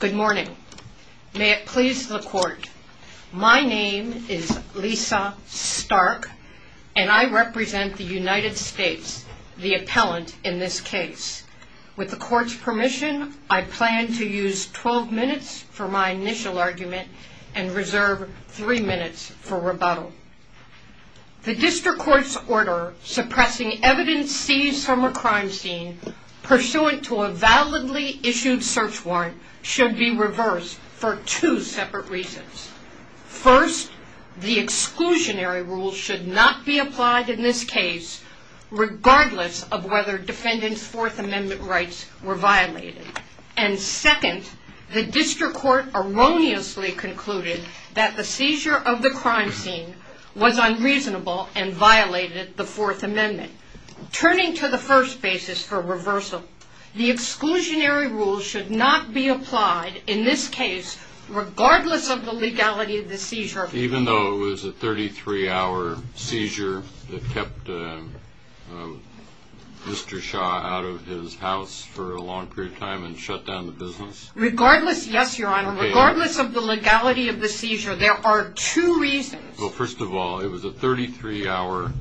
Good morning. May it please the court. My name is Lisa Stark, and I represent the United States, the appellant in this case. With the court's permission, I plan to use 12 minutes for my initial argument and reserve 3 minutes for rebuttal. The district court's order suppressing evidence seized from a crime scene pursuant to a validly issued search warrant should be reversed for two separate reasons. First, the exclusionary rule should not be applied in this case, regardless of whether defendant's Fourth Amendment rights were violated. And second, the district court erroneously concluded that the seizure of the crime scene was unreasonable and violated the Fourth Amendment. Turning to the first basis for reversal, the exclusionary rule should not be applied in this case, regardless of the legality of the seizure. Even though it was a 33-hour seizure that kept Mr. Shah out of his house for a long period of time and shut down the business? Regardless, yes, Your Honor. Regardless of the legality of the seizure, there are two reasons. Well, first of all, it was a 33-hour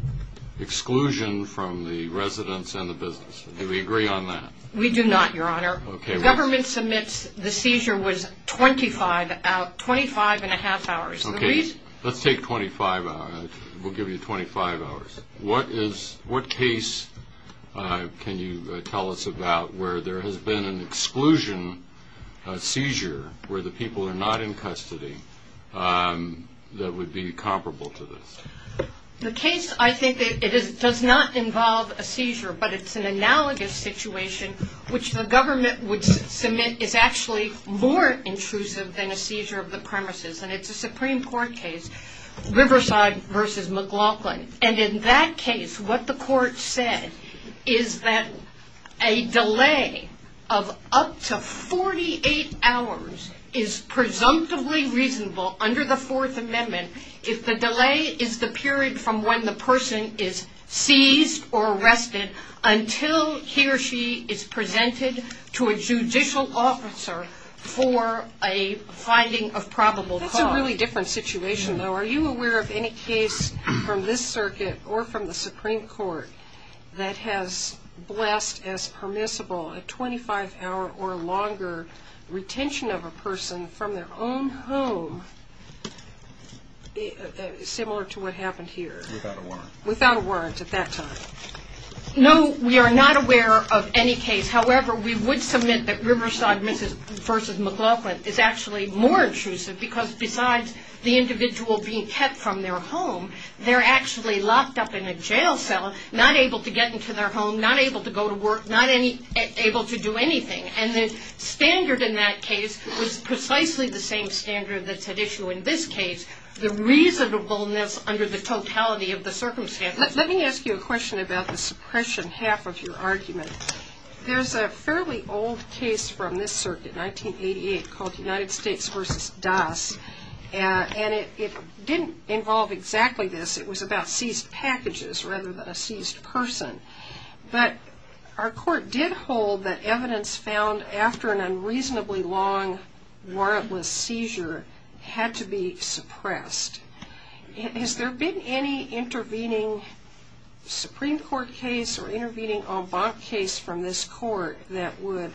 exclusion from the residence and the business. Do we agree on that? We do not, Your Honor. Government submits the seizure was 25 and a half hours. Okay. Let's take 25 hours. We'll give you 25 hours. What case can you tell us about where there has been an exclusion seizure where the people are not in custody that would be comparable to this? The case, I think, does not involve a seizure, but it's an analogous situation, which the government would submit is actually more intrusive than a seizure of the premises. And it's a Supreme Court case, Riverside v. McLaughlin. And in that case, what the court said is that a delay of up to 48 hours is presumptively reasonable under the Fourth Amendment if the delay is the period from when the person is seized or arrested until he or she is presented to a judicial officer for a finding of probable cause. That's a really different situation, though. Are you aware of any case from this circuit or from the Supreme Court that has blessed as permissible a 25-hour or longer retention of a person from their own home similar to what happened here? Without a warrant. Without a warrant at that time. No, we are not aware of any case. However, we would submit that Riverside v. McLaughlin is actually more intrusive because besides the individual being kept from their home, they're actually locked up in a jail cell, not able to get into their home, not able to go to work, not able to do anything. And the standard in that case was precisely the same standard that's at issue in this case, the reasonableness under the totality of the circumstance. Let me ask you a question about the suppression half of your argument. There's a fairly old case from this circuit, 1988, called United States v. Das, and it didn't involve exactly this. It was about seized packages rather than a seized person. But our court did hold that evidence found after an unreasonably long warrantless seizure had to be suppressed. Has there been any intervening Supreme Court case or intervening en banc case from this court that would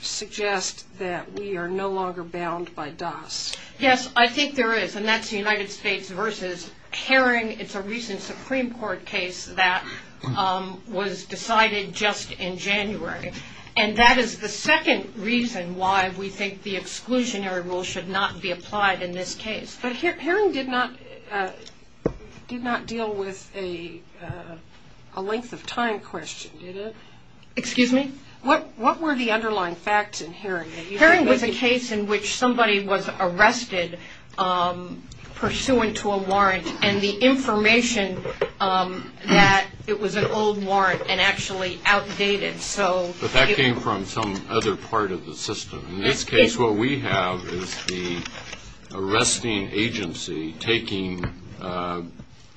suggest that we are no longer bound by Das? Yes, I think there is, and that's United States v. Herring. It's a recent Supreme Court case that was decided just in January. And that is the second reason why we think the exclusionary rule should not be applied in this case. But Herring did not deal with a length of time question, did it? Excuse me? Herring was a case in which somebody was arrested pursuant to a warrant and the information that it was an old warrant and actually outdated. But that came from some other part of the system. In this case, what we have is the arresting agency taking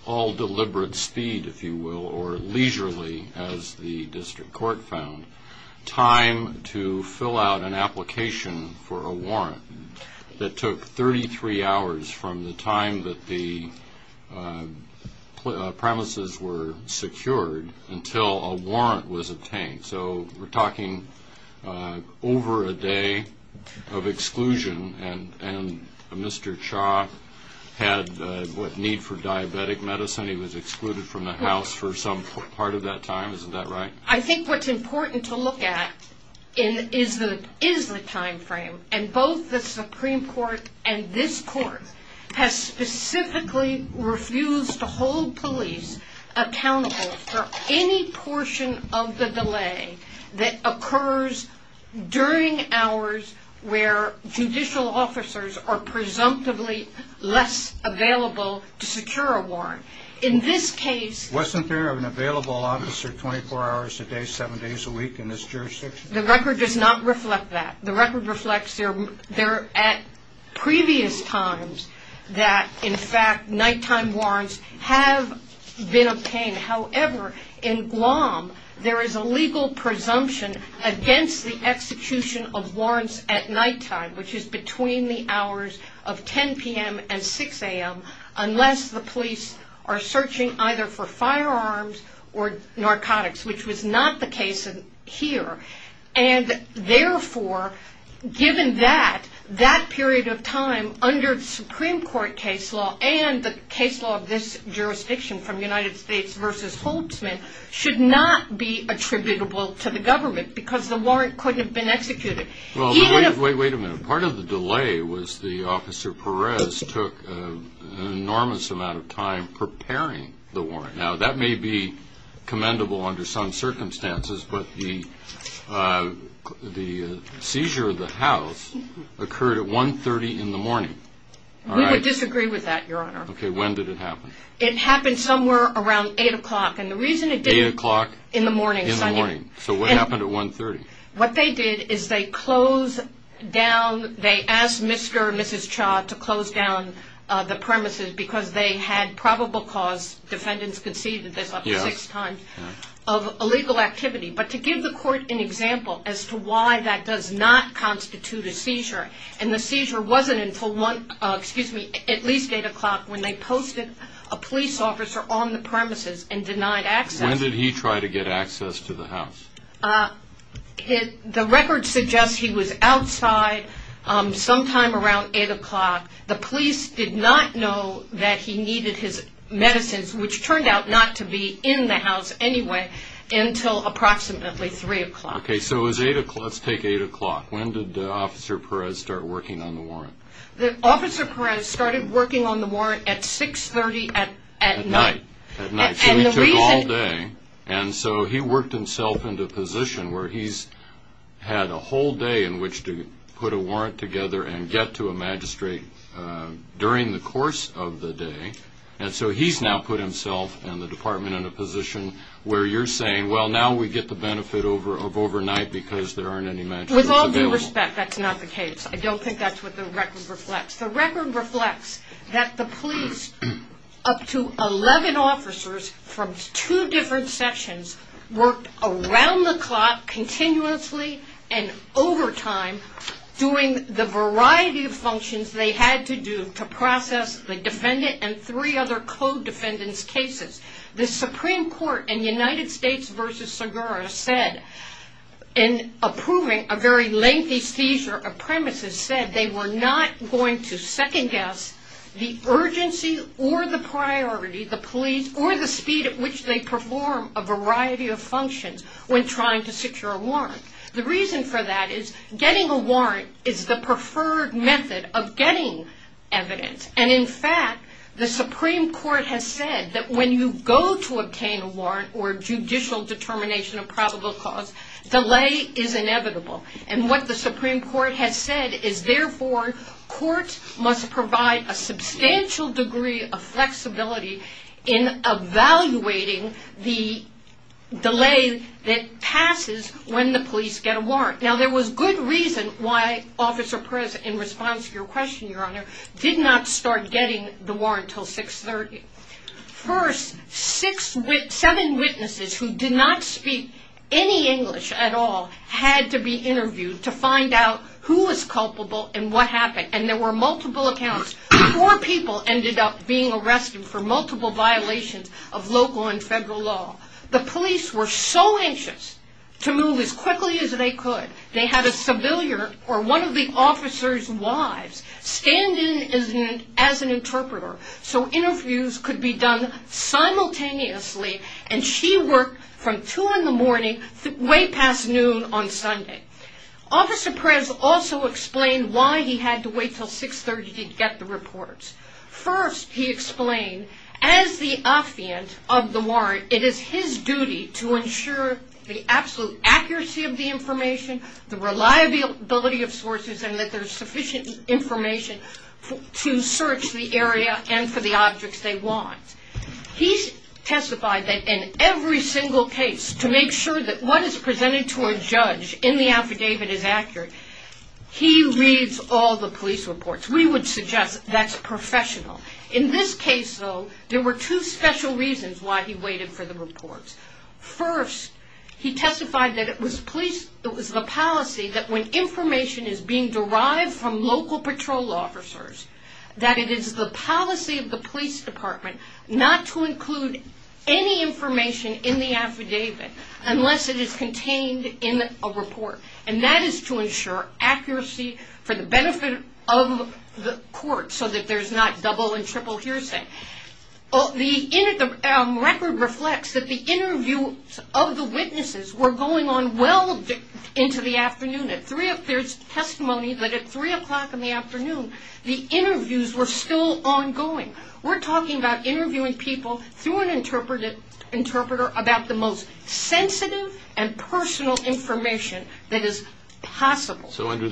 all deliberate speed, if you will, or leisurely, as the district court found, time to fill out an application for a warrant that took 33 hours from the time that the premises were secured until a warrant was obtained. So we're talking over a day of exclusion. And Mr. Cha had a need for diabetic medicine. He was excluded from the House for some part of that time. Isn't that right? I think what's important to look at is the time frame. And both the Supreme Court and this Court have specifically refused to hold police accountable for any portion of the delay that occurs during hours where judicial officers are presumptively less available to secure a warrant. In this case... The record does not reflect that. The record reflects there at previous times that, in fact, nighttime warrants have been obtained. However, in Guam, there is a legal presumption against the execution of warrants at nighttime, which is between the hours of 10 p.m. and 6 a.m., unless the police are searching either for firearms or narcotics, which was never the case. That is not the case here. And therefore, given that, that period of time under Supreme Court case law and the case law of this jurisdiction from United States v. Holtzman should not be attributable to the government because the warrant couldn't have been executed. Wait a minute. Part of the delay was the Officer Perez took an enormous amount of time preparing the warrant. Now, that may be commendable under some circumstances, but the seizure of the house occurred at 1.30 in the morning. We would disagree with that, Your Honor. Okay. When did it happen? It happened somewhere around 8 o'clock. And the reason it didn't... 8 o'clock? In the morning. In the morning. So what happened at 1.30? What they did is they closed down, they asked Mr. and Mrs. Cha to close down the premises because they had probable cause, defendants conceded this up to six times, of illegal activity. But to give the court an example as to why that does not constitute a seizure, and the seizure wasn't until at least 8 o'clock when they posted a police officer on the premises and denied access. When did he try to get access to the house? The record suggests he was outside sometime around 8 o'clock. The police did not know that he needed his medicines, which turned out not to be in the house anyway, until approximately 3 o'clock. Okay. So it was 8 o'clock. Let's take 8 o'clock. When did Officer Perez start working on the warrant? Officer Perez started working on the warrant at 6.30 at night. At night. So he took all day. And so he worked himself into a position where he's had a whole day in which to put a warrant together and get to a magistrate during the course of the day. And so he's now put himself and the department in a position where you're saying, well, now we get the benefit of overnight because there aren't any magistrates available. With all due respect, that's not the case. I don't think that's what the record reflects. The record reflects that the police, up to 11 officers from two different sessions, worked around the clock, continuously and over time, doing the variety of functions they had to do to process the defendant and three other co-defendants' cases. The Supreme Court in United States v. Segura said, in approving a very lengthy seizure of premises, said they were not going to second-guess the urgency or the priority, the police or the speed at which they perform a variety of functions when trying to secure a warrant. The reason for that is getting a warrant is the preferred method of getting evidence. And in fact, the Supreme Court has said that when you go to obtain a warrant or judicial determination of probable cause, delay is inevitable. And what the Supreme Court has said is, therefore, courts must provide a substantial degree of flexibility in evaluating the delay that passes when the police get a warrant. Now, there was good reason why Officer Perez, in response to your question, Your Honor, did not start getting the warrant until 6.30. First, seven witnesses who did not speak any English at all had to be interviewed to find out who was culpable and what happened. And there were multiple accounts. Four people ended up being arrested for multiple violations of local and federal law. The police were so anxious to move as quickly as they could, they had a civilian or one of the officer's wives stand in as an interpreter so interviews could be done simultaneously. And she worked from two in the morning way past noon on Sunday. Officer Perez also explained why he had to wait until 6.30 to get the reports. First, he explained, as the affiant of the warrant, it is his duty to ensure the absolute accuracy of the information, the reliability of sources, and that there is sufficient information to search the area and for the objects they want. He testified that in every single case, to make sure that what is presented to a judge in the affidavit is accurate, he reads all the police reports. We would suggest that's professional. In this case, though, there were two special reasons why he waited for the reports. First, he testified that it was the policy that when information is being derived from local patrol officers, that it is the policy of the police department not to include any information in the affidavit unless it is contained in a report. And that is to ensure accuracy for the benefit of the court so that there's not double and triple hearsay. The record reflects that the interviews of the witnesses were going on well into the afternoon. There's testimony that at 3 o'clock in the afternoon, the interviews were still ongoing. We're talking about interviewing people through an interpreter about the most sensitive and personal information that is possible. So under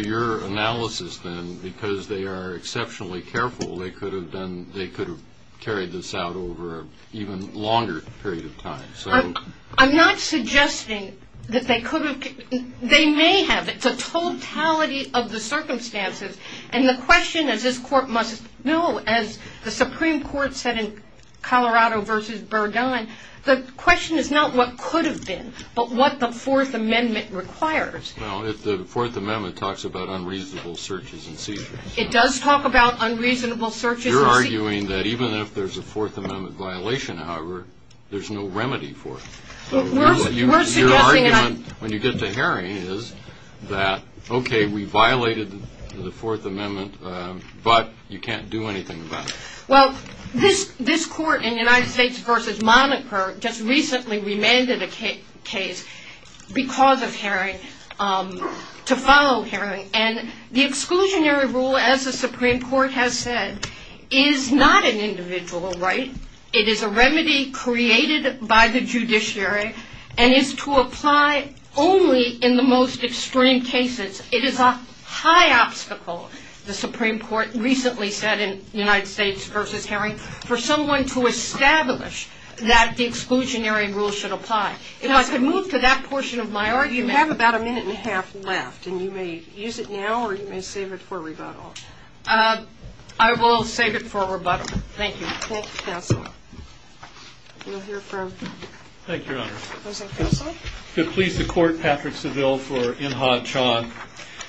your analysis, then, because they are exceptionally careful, they could have carried this out over an even longer period of time. I'm not suggesting that they could have. They may have. It's a totality of the circumstances. And the question, as this court must know, as the Supreme Court said in Colorado v. Burdine, the question is not what could have been, but what the Fourth Amendment requires. Well, the Fourth Amendment talks about unreasonable searches and seizures. It does talk about unreasonable searches and seizures. I'm arguing that even if there's a Fourth Amendment violation, however, there's no remedy for it. Your argument when you get to Haring is that, okay, we violated the Fourth Amendment, but you can't do anything about it. Well, this court in United States v. Moniker just recently remanded a case because of Haring to follow Haring. And the exclusionary rule, as the Supreme Court has said, is not an individual right. It is a remedy created by the judiciary and is to apply only in the most extreme cases. It is a high obstacle, the Supreme Court recently said in United States v. Haring, for someone to establish that the exclusionary rule should apply. If I could move to that portion of my argument. Well, you have about a minute and a half left, and you may use it now or you may save it for rebuttal. I will save it for rebuttal. Thank you. Thank you, counsel. Thank you, Your Honor. Counsel? To please the court, Patrick Seville for Inhofe-Chonk.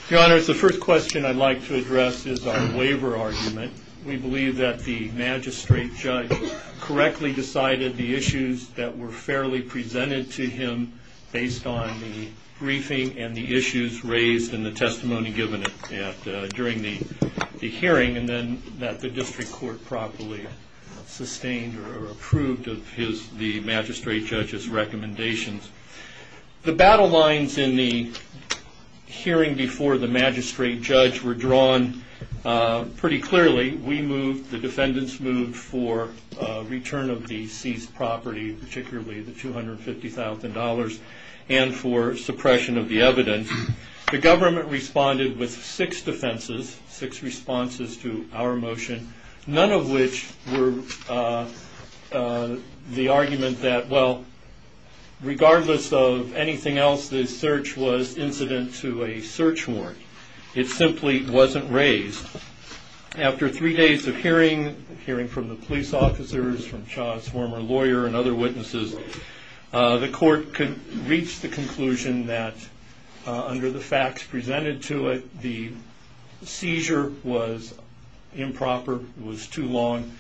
Your Honor, the first question I'd like to address is our waiver argument. We believe that the magistrate judge correctly decided the issues that were fairly presented to him based on the briefing and the issues raised in the testimony given during the hearing, and then that the district court properly sustained or approved the magistrate judge's recommendations. The battle lines in the hearing before the magistrate judge were drawn pretty clearly. We moved, the defendants moved for return of the seized property, particularly the $250,000, and for suppression of the evidence. The government responded with six defenses, six responses to our motion, none of which were the argument that, well, regardless of anything else, this search was incident to a search warrant. It simply wasn't raised. After three days of hearing, hearing from the police officers, from Cha's former lawyer and other witnesses, the court could reach the conclusion that, under the facts presented to it, the seizure was improper, was too long.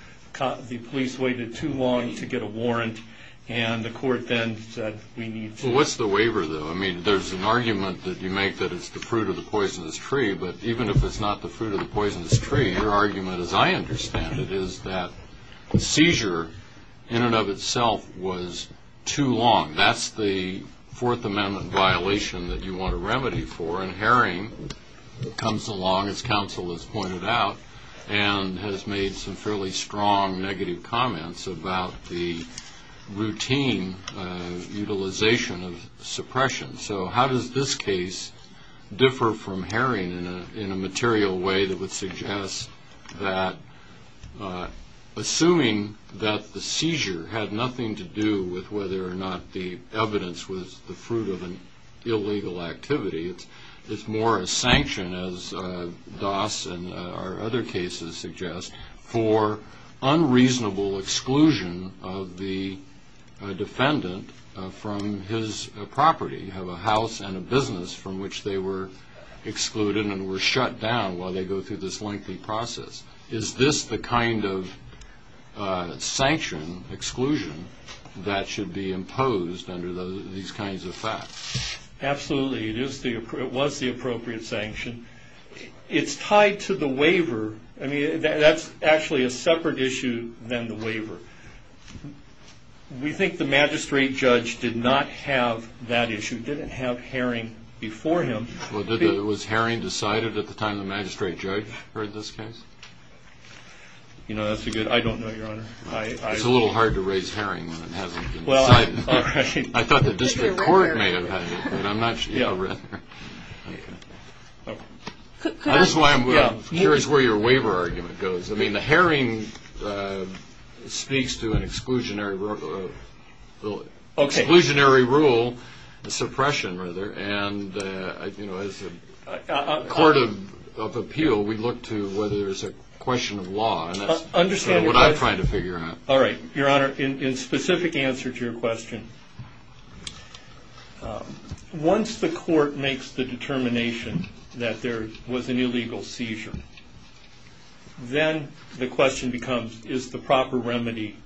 The police waited too long to get a warrant, and the court then said we need to- Well, what's the waiver, though? I mean, there's an argument that you make that it's the fruit of the poisonous tree, but even if it's not the fruit of the poisonous tree, your argument, as I understand it, is that the seizure in and of itself was too long. That's the Fourth Amendment violation that you want a remedy for, and Herring comes along, as counsel has pointed out, and has made some fairly strong negative comments about the routine utilization of suppression. So how does this case differ from Herring in a material way that would suggest that, assuming that the seizure had nothing to do with whether or not the evidence was the fruit of an illegal activity, it's more a sanction, as Doss and our other cases suggest, for unreasonable exclusion of the defendant from his property, of a house and a business, from which they were excluded and were shut down while they go through this lengthy process? Is this the kind of sanction, exclusion, that should be imposed under these kinds of facts? Absolutely. It was the appropriate sanction. It's tied to the waiver. That's actually a separate issue than the waiver. We think the magistrate judge did not have that issue, didn't have Herring before him. Was Herring decided at the time the magistrate judge heard this case? I don't know, Your Honor. It's a little hard to raise Herring when it hasn't been decided. I thought the district court may have had it. I'm just curious where your waiver argument goes. I mean, the Herring speaks to an exclusionary rule, the suppression, rather, and as a court of appeal, we look to whether there's a question of law, and that's what I'm trying to figure out. All right. Your Honor, in specific answer to your question, once the court makes the determination that there was an illegal seizure, then the question becomes, is the proper remedy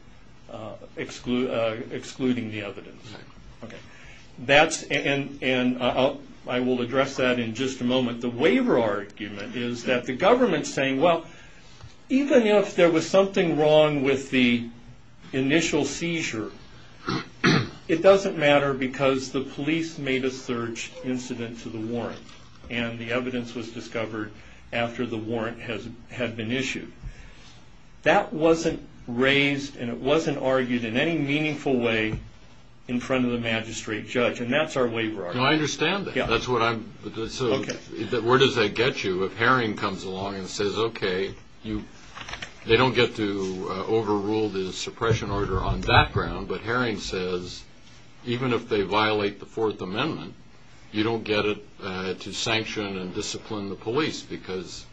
excluding the evidence? I will address that in just a moment. The waiver argument is that the government is saying, well, even if there was something wrong with the initial seizure, it doesn't matter because the police made a search incident to the warrant, and the evidence was discovered after the warrant had been issued. That wasn't raised and it wasn't argued in any meaningful way in front of the magistrate judge, and that's our waiver argument. I understand that. So where does that get you if Herring comes along and says, okay, they don't get to overrule the suppression order on that ground, but Herring says even if they violate the Fourth Amendment, you don't get it to sanction and discipline the police because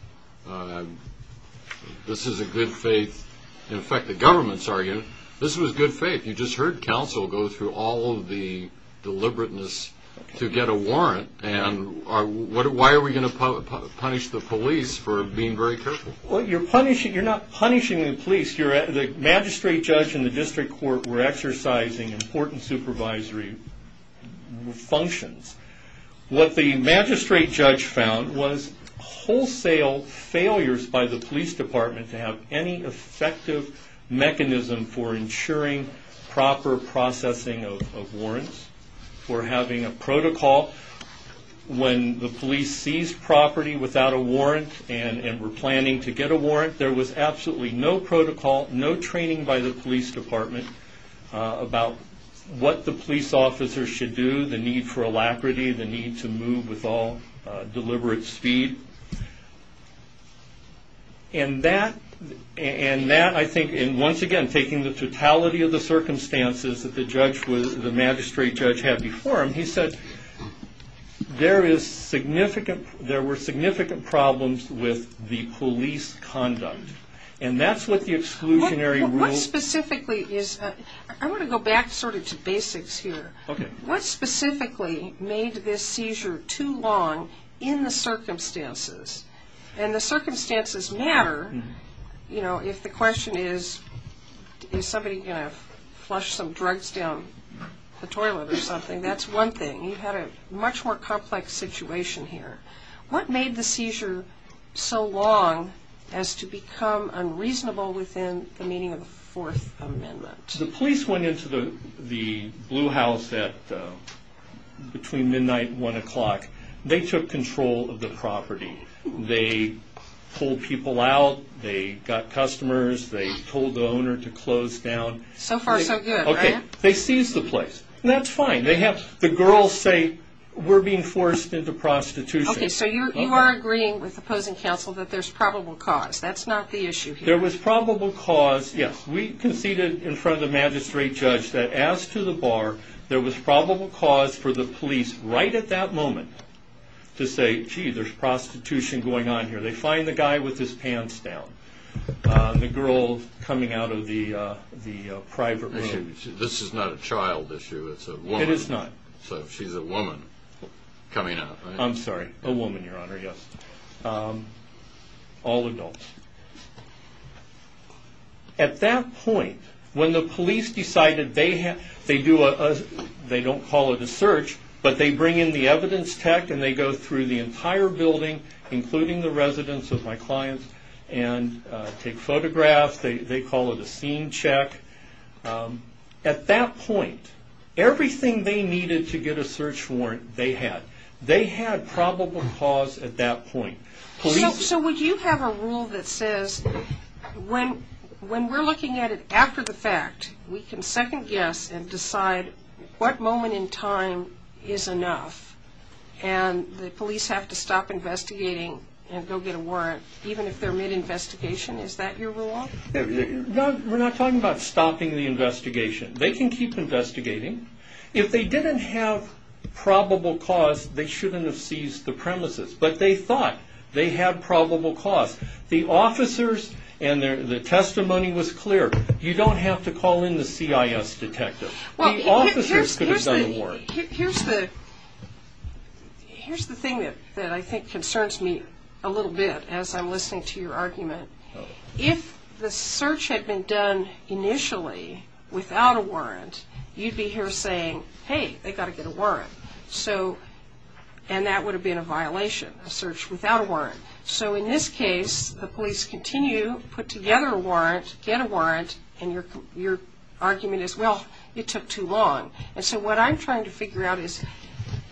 this is a good faith. In fact, the government's arguing this was good faith. You just heard counsel go through all of the deliberateness to get a warrant, and why are we going to punish the police for being very careful? Well, you're not punishing the police. The magistrate judge and the district court were exercising important supervisory functions. What the magistrate judge found was wholesale failures by the police department to have any effective mechanism for ensuring proper processing of warrants, for having a protocol when the police seized property without a warrant and were planning to get a warrant, there was absolutely no protocol, no training by the police department about what the police officers should do, the need for alacrity, the need to move with all deliberate speed. Once again, taking the totality of the circumstances that the magistrate judge had before him, he said there were significant problems with the police conduct, and that's what the exclusionary rule... I want to go back to basics here. What specifically made this seizure too long in the circumstances? And the circumstances matter. If the question is, is somebody going to flush some drugs down the toilet or something, that's one thing. You had a much more complex situation here. What made the seizure so long as to become unreasonable within the meaning of the Fourth Amendment? The police went into the Blue House between midnight and 1 o'clock. They took control of the property. They pulled people out. They got customers. They told the owner to close down. So far, so good, right? Okay. They seized the place. That's fine. The girls say, we're being forced into prostitution. Okay, so you are agreeing with opposing counsel that there's probable cause. That's not the issue here. There was probable cause, yes. We conceded in front of the magistrate judge that as to the bar, there was probable cause for the police right at that moment to say, gee, there's prostitution going on here. They find the guy with his pants down, the girl coming out of the private room. This is not a child issue. It's a woman. It is not. So she's a woman coming out, right? I'm sorry, a woman, Your Honor, yes. All adults. At that point, when the police decided they do a, they don't call it a search, but they bring in the evidence tech and they go through the entire building, including the residence of my clients, and take photographs, they call it a scene check. At that point, everything they needed to get a search warrant, they had. They had probable cause at that point. So would you have a rule that says when we're looking at it after the fact, we can second guess and decide what moment in time is enough, and the police have to stop investigating and go get a warrant, even if they're mid-investigation? Is that your rule? No, we're not talking about stopping the investigation. They can keep investigating. If they didn't have probable cause, they shouldn't have seized the premises. But they thought they had probable cause. The officers and the testimony was clear. You don't have to call in the CIS detective. The officers could have gotten a warrant. Here's the thing that I think concerns me a little bit as I'm listening to your argument. If the search had been done initially without a warrant, you'd be here saying, hey, they've got to get a warrant. And that would have been a violation, a search without a warrant. So in this case, the police continue, put together a warrant, get a warrant, and your argument is, well, it took too long. And so what I'm trying to figure out is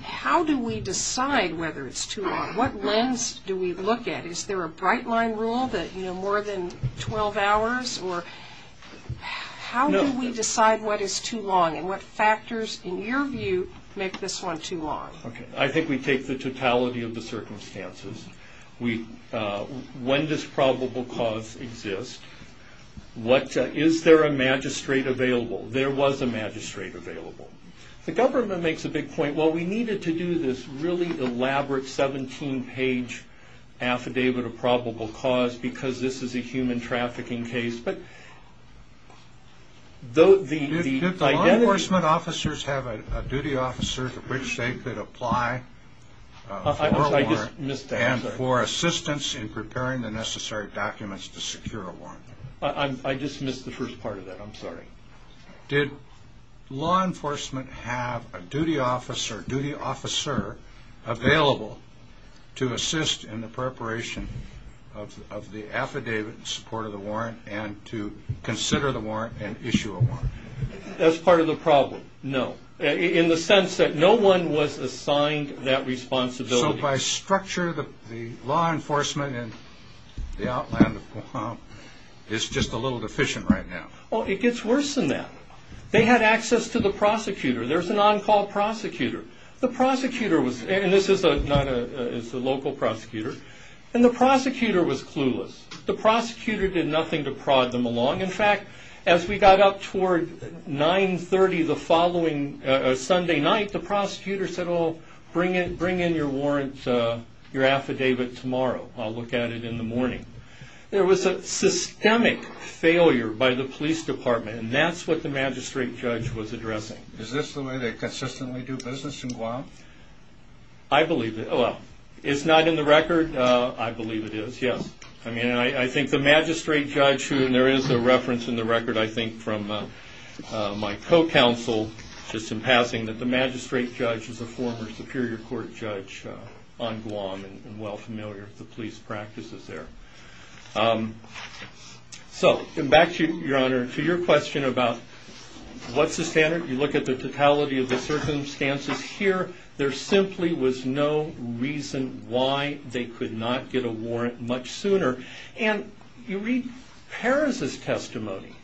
how do we decide whether it's too long? What lens do we look at? Is there a bright line rule that, you know, more than 12 hours? How do we decide what is too long and what factors, in your view, make this one too long? I think we take the totality of the circumstances. When does probable cause exist? Is there a magistrate available? There was a magistrate available. The government makes a big point. Well, we needed to do this really elaborate 17-page affidavit of probable cause because this is a human trafficking case. Did law enforcement officers have a duty officer to which they could apply for a warrant and for assistance in preparing the necessary documents to secure a warrant? I just missed the first part of that. I'm sorry. Did law enforcement have a duty officer available to assist in the preparation of the affidavit in support of the warrant and to consider the warrant and issue a warrant? That's part of the problem, no, in the sense that no one was assigned that responsibility. So by structure, the law enforcement in the outland of Guam is just a little deficient right now. Well, it gets worse than that. They had access to the prosecutor. There's an on-call prosecutor. The prosecutor was, and this is a local prosecutor, and the prosecutor was clueless. The prosecutor did nothing to prod them along. In fact, as we got up toward 930 the following Sunday night, the prosecutor said, oh, bring in your warrant, your affidavit tomorrow. I'll look at it in the morning. There was a systemic failure by the police department, and that's what the magistrate judge was addressing. Is this the way they consistently do business in Guam? I believe it. Well, it's not in the record. I believe it is, yes. I mean, I think the magistrate judge, and there is a reference in the record, I think, from my co-counsel just in passing that the magistrate judge is a former Superior Court judge on Guam and well familiar with the police practices there. So back to you, Your Honor, to your question about what's the standard. You look at the totality of the circumstances here. There simply was no reason why they could not get a warrant much sooner. And you read Perez's testimony.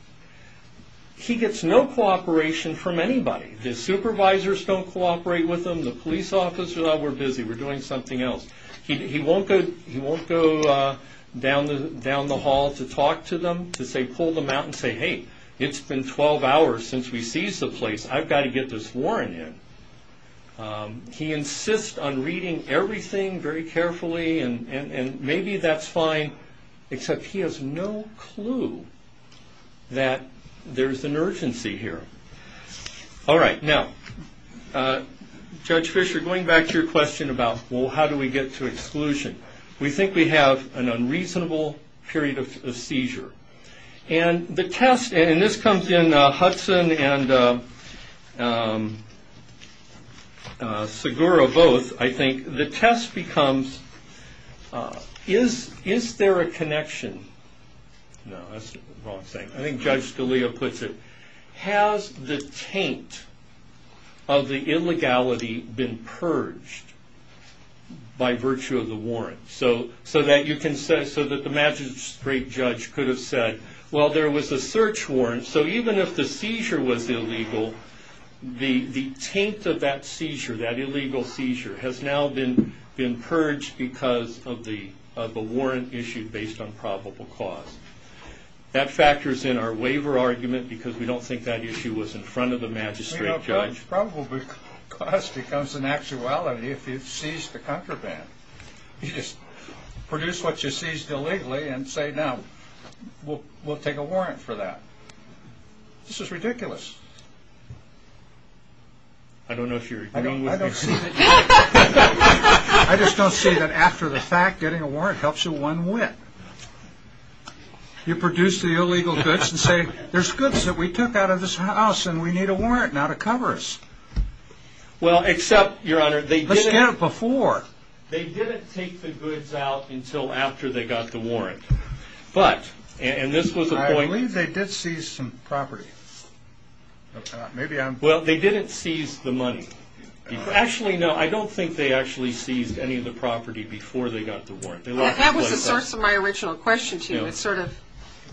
He gets no cooperation from anybody. The supervisors don't cooperate with him. The police officers, oh, we're busy. We're doing something else. He won't go down the hall to talk to them, to pull them out and say, hey, it's been 12 hours since we seized the place. I've got to get this warrant in. He insists on reading everything very carefully, and maybe that's fine, except he has no clue that there's an urgency here. All right. Now, Judge Fisher, going back to your question about, well, how do we get to exclusion, we think we have an unreasonable period of seizure. And the test, and this comes in Hudson and Segura both, I think. The test becomes, is there a connection? No, that's the wrong thing. I think Judge Scalia puts it. Has the taint of the illegality been purged by virtue of the warrant? So that you can say, so that the magistrate judge could have said, well, there was a search warrant. So even if the seizure was illegal, the taint of that seizure, that illegal seizure, has now been purged because of a warrant issued based on probable cause. That factors in our waiver argument because we don't think that issue was in front of the magistrate judge. Probable cause becomes an actuality if you seize the contraband. You just produce what you seized illegally and say, no, we'll take a warrant for that. This is ridiculous. I don't know if you're agreeing with me. I just don't see that after the fact, getting a warrant helps you one whit. You produce the illegal goods and say, there's goods that we took out of this house and we need a warrant now to cover us. Well, except, Your Honor, they didn't take the goods out until after they got the warrant. But, and this was a point. I believe they did seize some property. Well, they didn't seize the money. Actually, no, I don't think they actually seized any of the property before they got the warrant. That was the source of my original question to you. It's sort of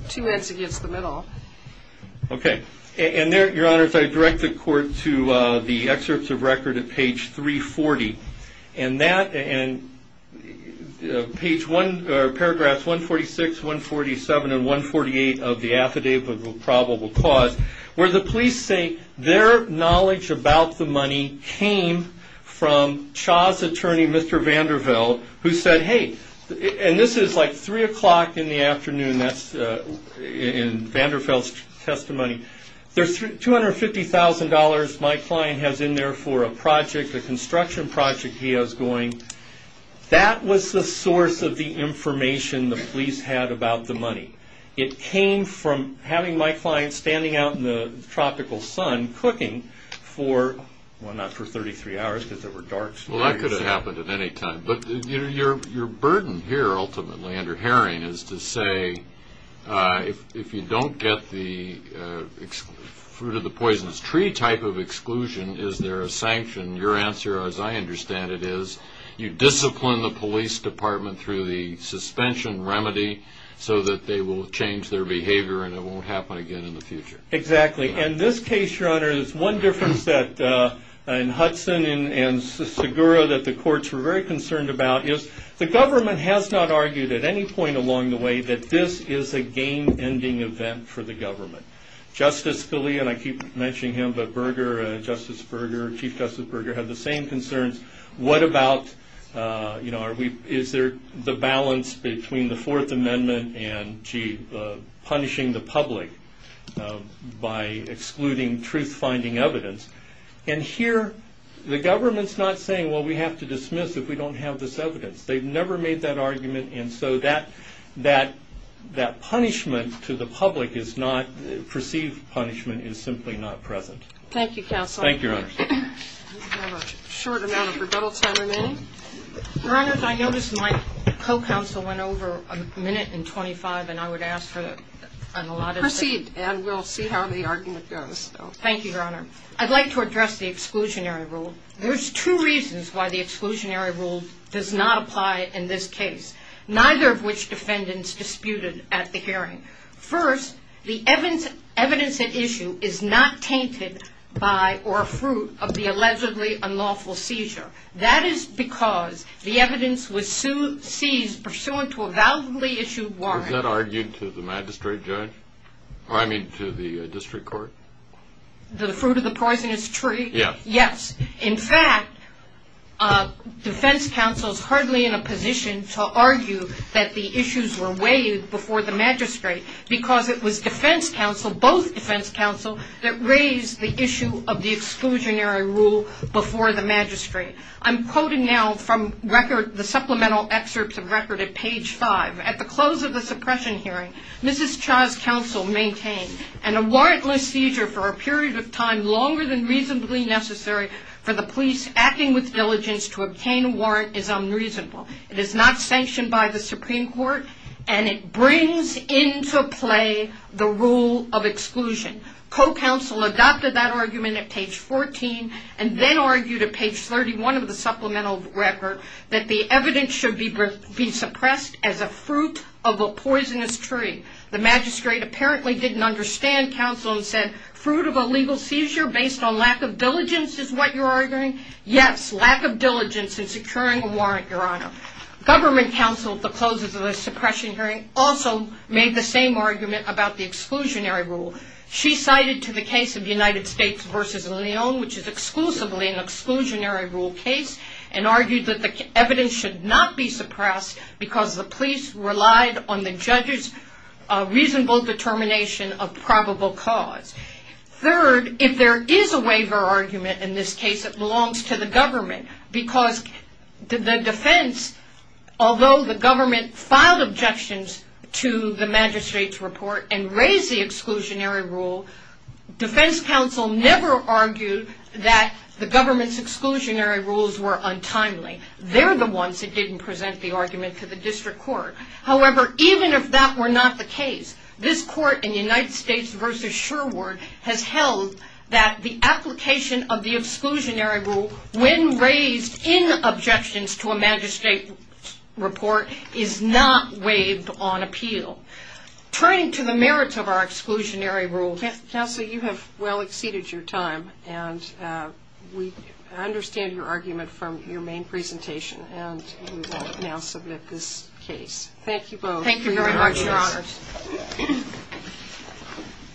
two heads against the middle. Okay. And there, Your Honor, if I direct the court to the excerpts of record at page 340. And that, and page one, or paragraphs 146, 147, and 148 of the affidavit of probable cause, where the police say their knowledge about the money came from Cha's attorney, Mr. Vanderveld, who said, hey, and this is like 3 o'clock in the afternoon, that's in Vanderveld's testimony. There's $250,000 my client has in there for a project, a construction project he has going. That was the source of the information the police had about the money. It came from having my client standing out in the tropical sun cooking for, well, not for 33 hours, because there were dark stories. Well, that could have happened at any time. But your burden here, ultimately, under Haring, is to say, if you don't get the fruit of the poisonous tree type of exclusion, is there a sanction? Your answer, as I understand it, is you discipline the police department through the suspension remedy so that they will change their behavior and it won't happen again in the future. Exactly. And this case, Your Honor, there's one difference that, in Hudson and Segura, that the courts were very concerned about, is the government has not argued at any point along the way that this is a game-ending event for the government. Justice Scalia, and I keep mentioning him, but Berger, Justice Berger, Chief Justice Berger, have the same concerns. What about, you know, is there the balance between the Fourth Amendment and punishing the public by excluding truth-finding evidence? And here, the government's not saying, well, we have to dismiss if we don't have this evidence. They've never made that argument, and so that punishment to the public is not perceived punishment, is simply not present. Thank you, Counsel. Thank you, Your Honor. We have a short amount of rebuttal time remaining. Your Honor, I noticed my co-counsel went over a minute and 25, and I would ask for an allotted... Proceed, and we'll see how the argument goes. Thank you, Your Honor. I'd like to address the exclusionary rule. There's two reasons why the exclusionary rule does not apply in this case, neither of which defendants disputed at the hearing. First, the evidence at issue is not tainted by or a fruit of the allegedly unlawful seizure. That is because the evidence was seized pursuant to a validly issued warrant. Was that argued to the magistrate judge? Or, I mean, to the district court? The fruit of the poisonous tree? Yes. Yes. In fact, defense counsel's hardly in a position to argue that the issues were weighed before the magistrate, because it was defense counsel, both defense counsel, that raised the issue of the exclusionary rule before the magistrate. I'm quoting now from the supplemental excerpts of record at page 5. At the close of the suppression hearing, Mrs. Cha's counsel maintained, and a warrantless seizure for a period of time longer than reasonably necessary for the police acting with diligence to obtain a warrant is unreasonable. It is not sanctioned by the Supreme Court, and it brings into play the rule of exclusion. Co-counsel adopted that argument at page 14 and then argued at page 31 of the supplemental record that the evidence should be suppressed as a fruit of a poisonous tree. The magistrate apparently didn't understand counsel and said, fruit of a legal seizure based on lack of diligence is what you're arguing? Yes, lack of diligence in securing a warrant, Your Honor. Government counsel at the close of the suppression hearing also made the same argument about the exclusionary rule. She cited to the case of United States versus Lyon, which is exclusively an exclusionary rule case, and argued that the evidence should not be suppressed because the police relied on the judge's reasonable determination of probable cause. Third, if there is a waiver argument in this case, it belongs to the government, because the defense, although the government filed objections to the magistrate's report and raised the exclusionary rule, defense counsel never argued that the government's exclusionary rules were untimely. They're the ones that didn't present the argument to the district court. However, even if that were not the case, this court in United States versus Sherwood has held that the application of the exclusionary rule when raised in objections to a magistrate's report is not waived on appeal. Turning to the merits of our exclusionary rule. Counsel, you have well exceeded your time, and we understand your argument from your main presentation, and we will now submit this case. Thank you both. Thank you very much, Your Honors.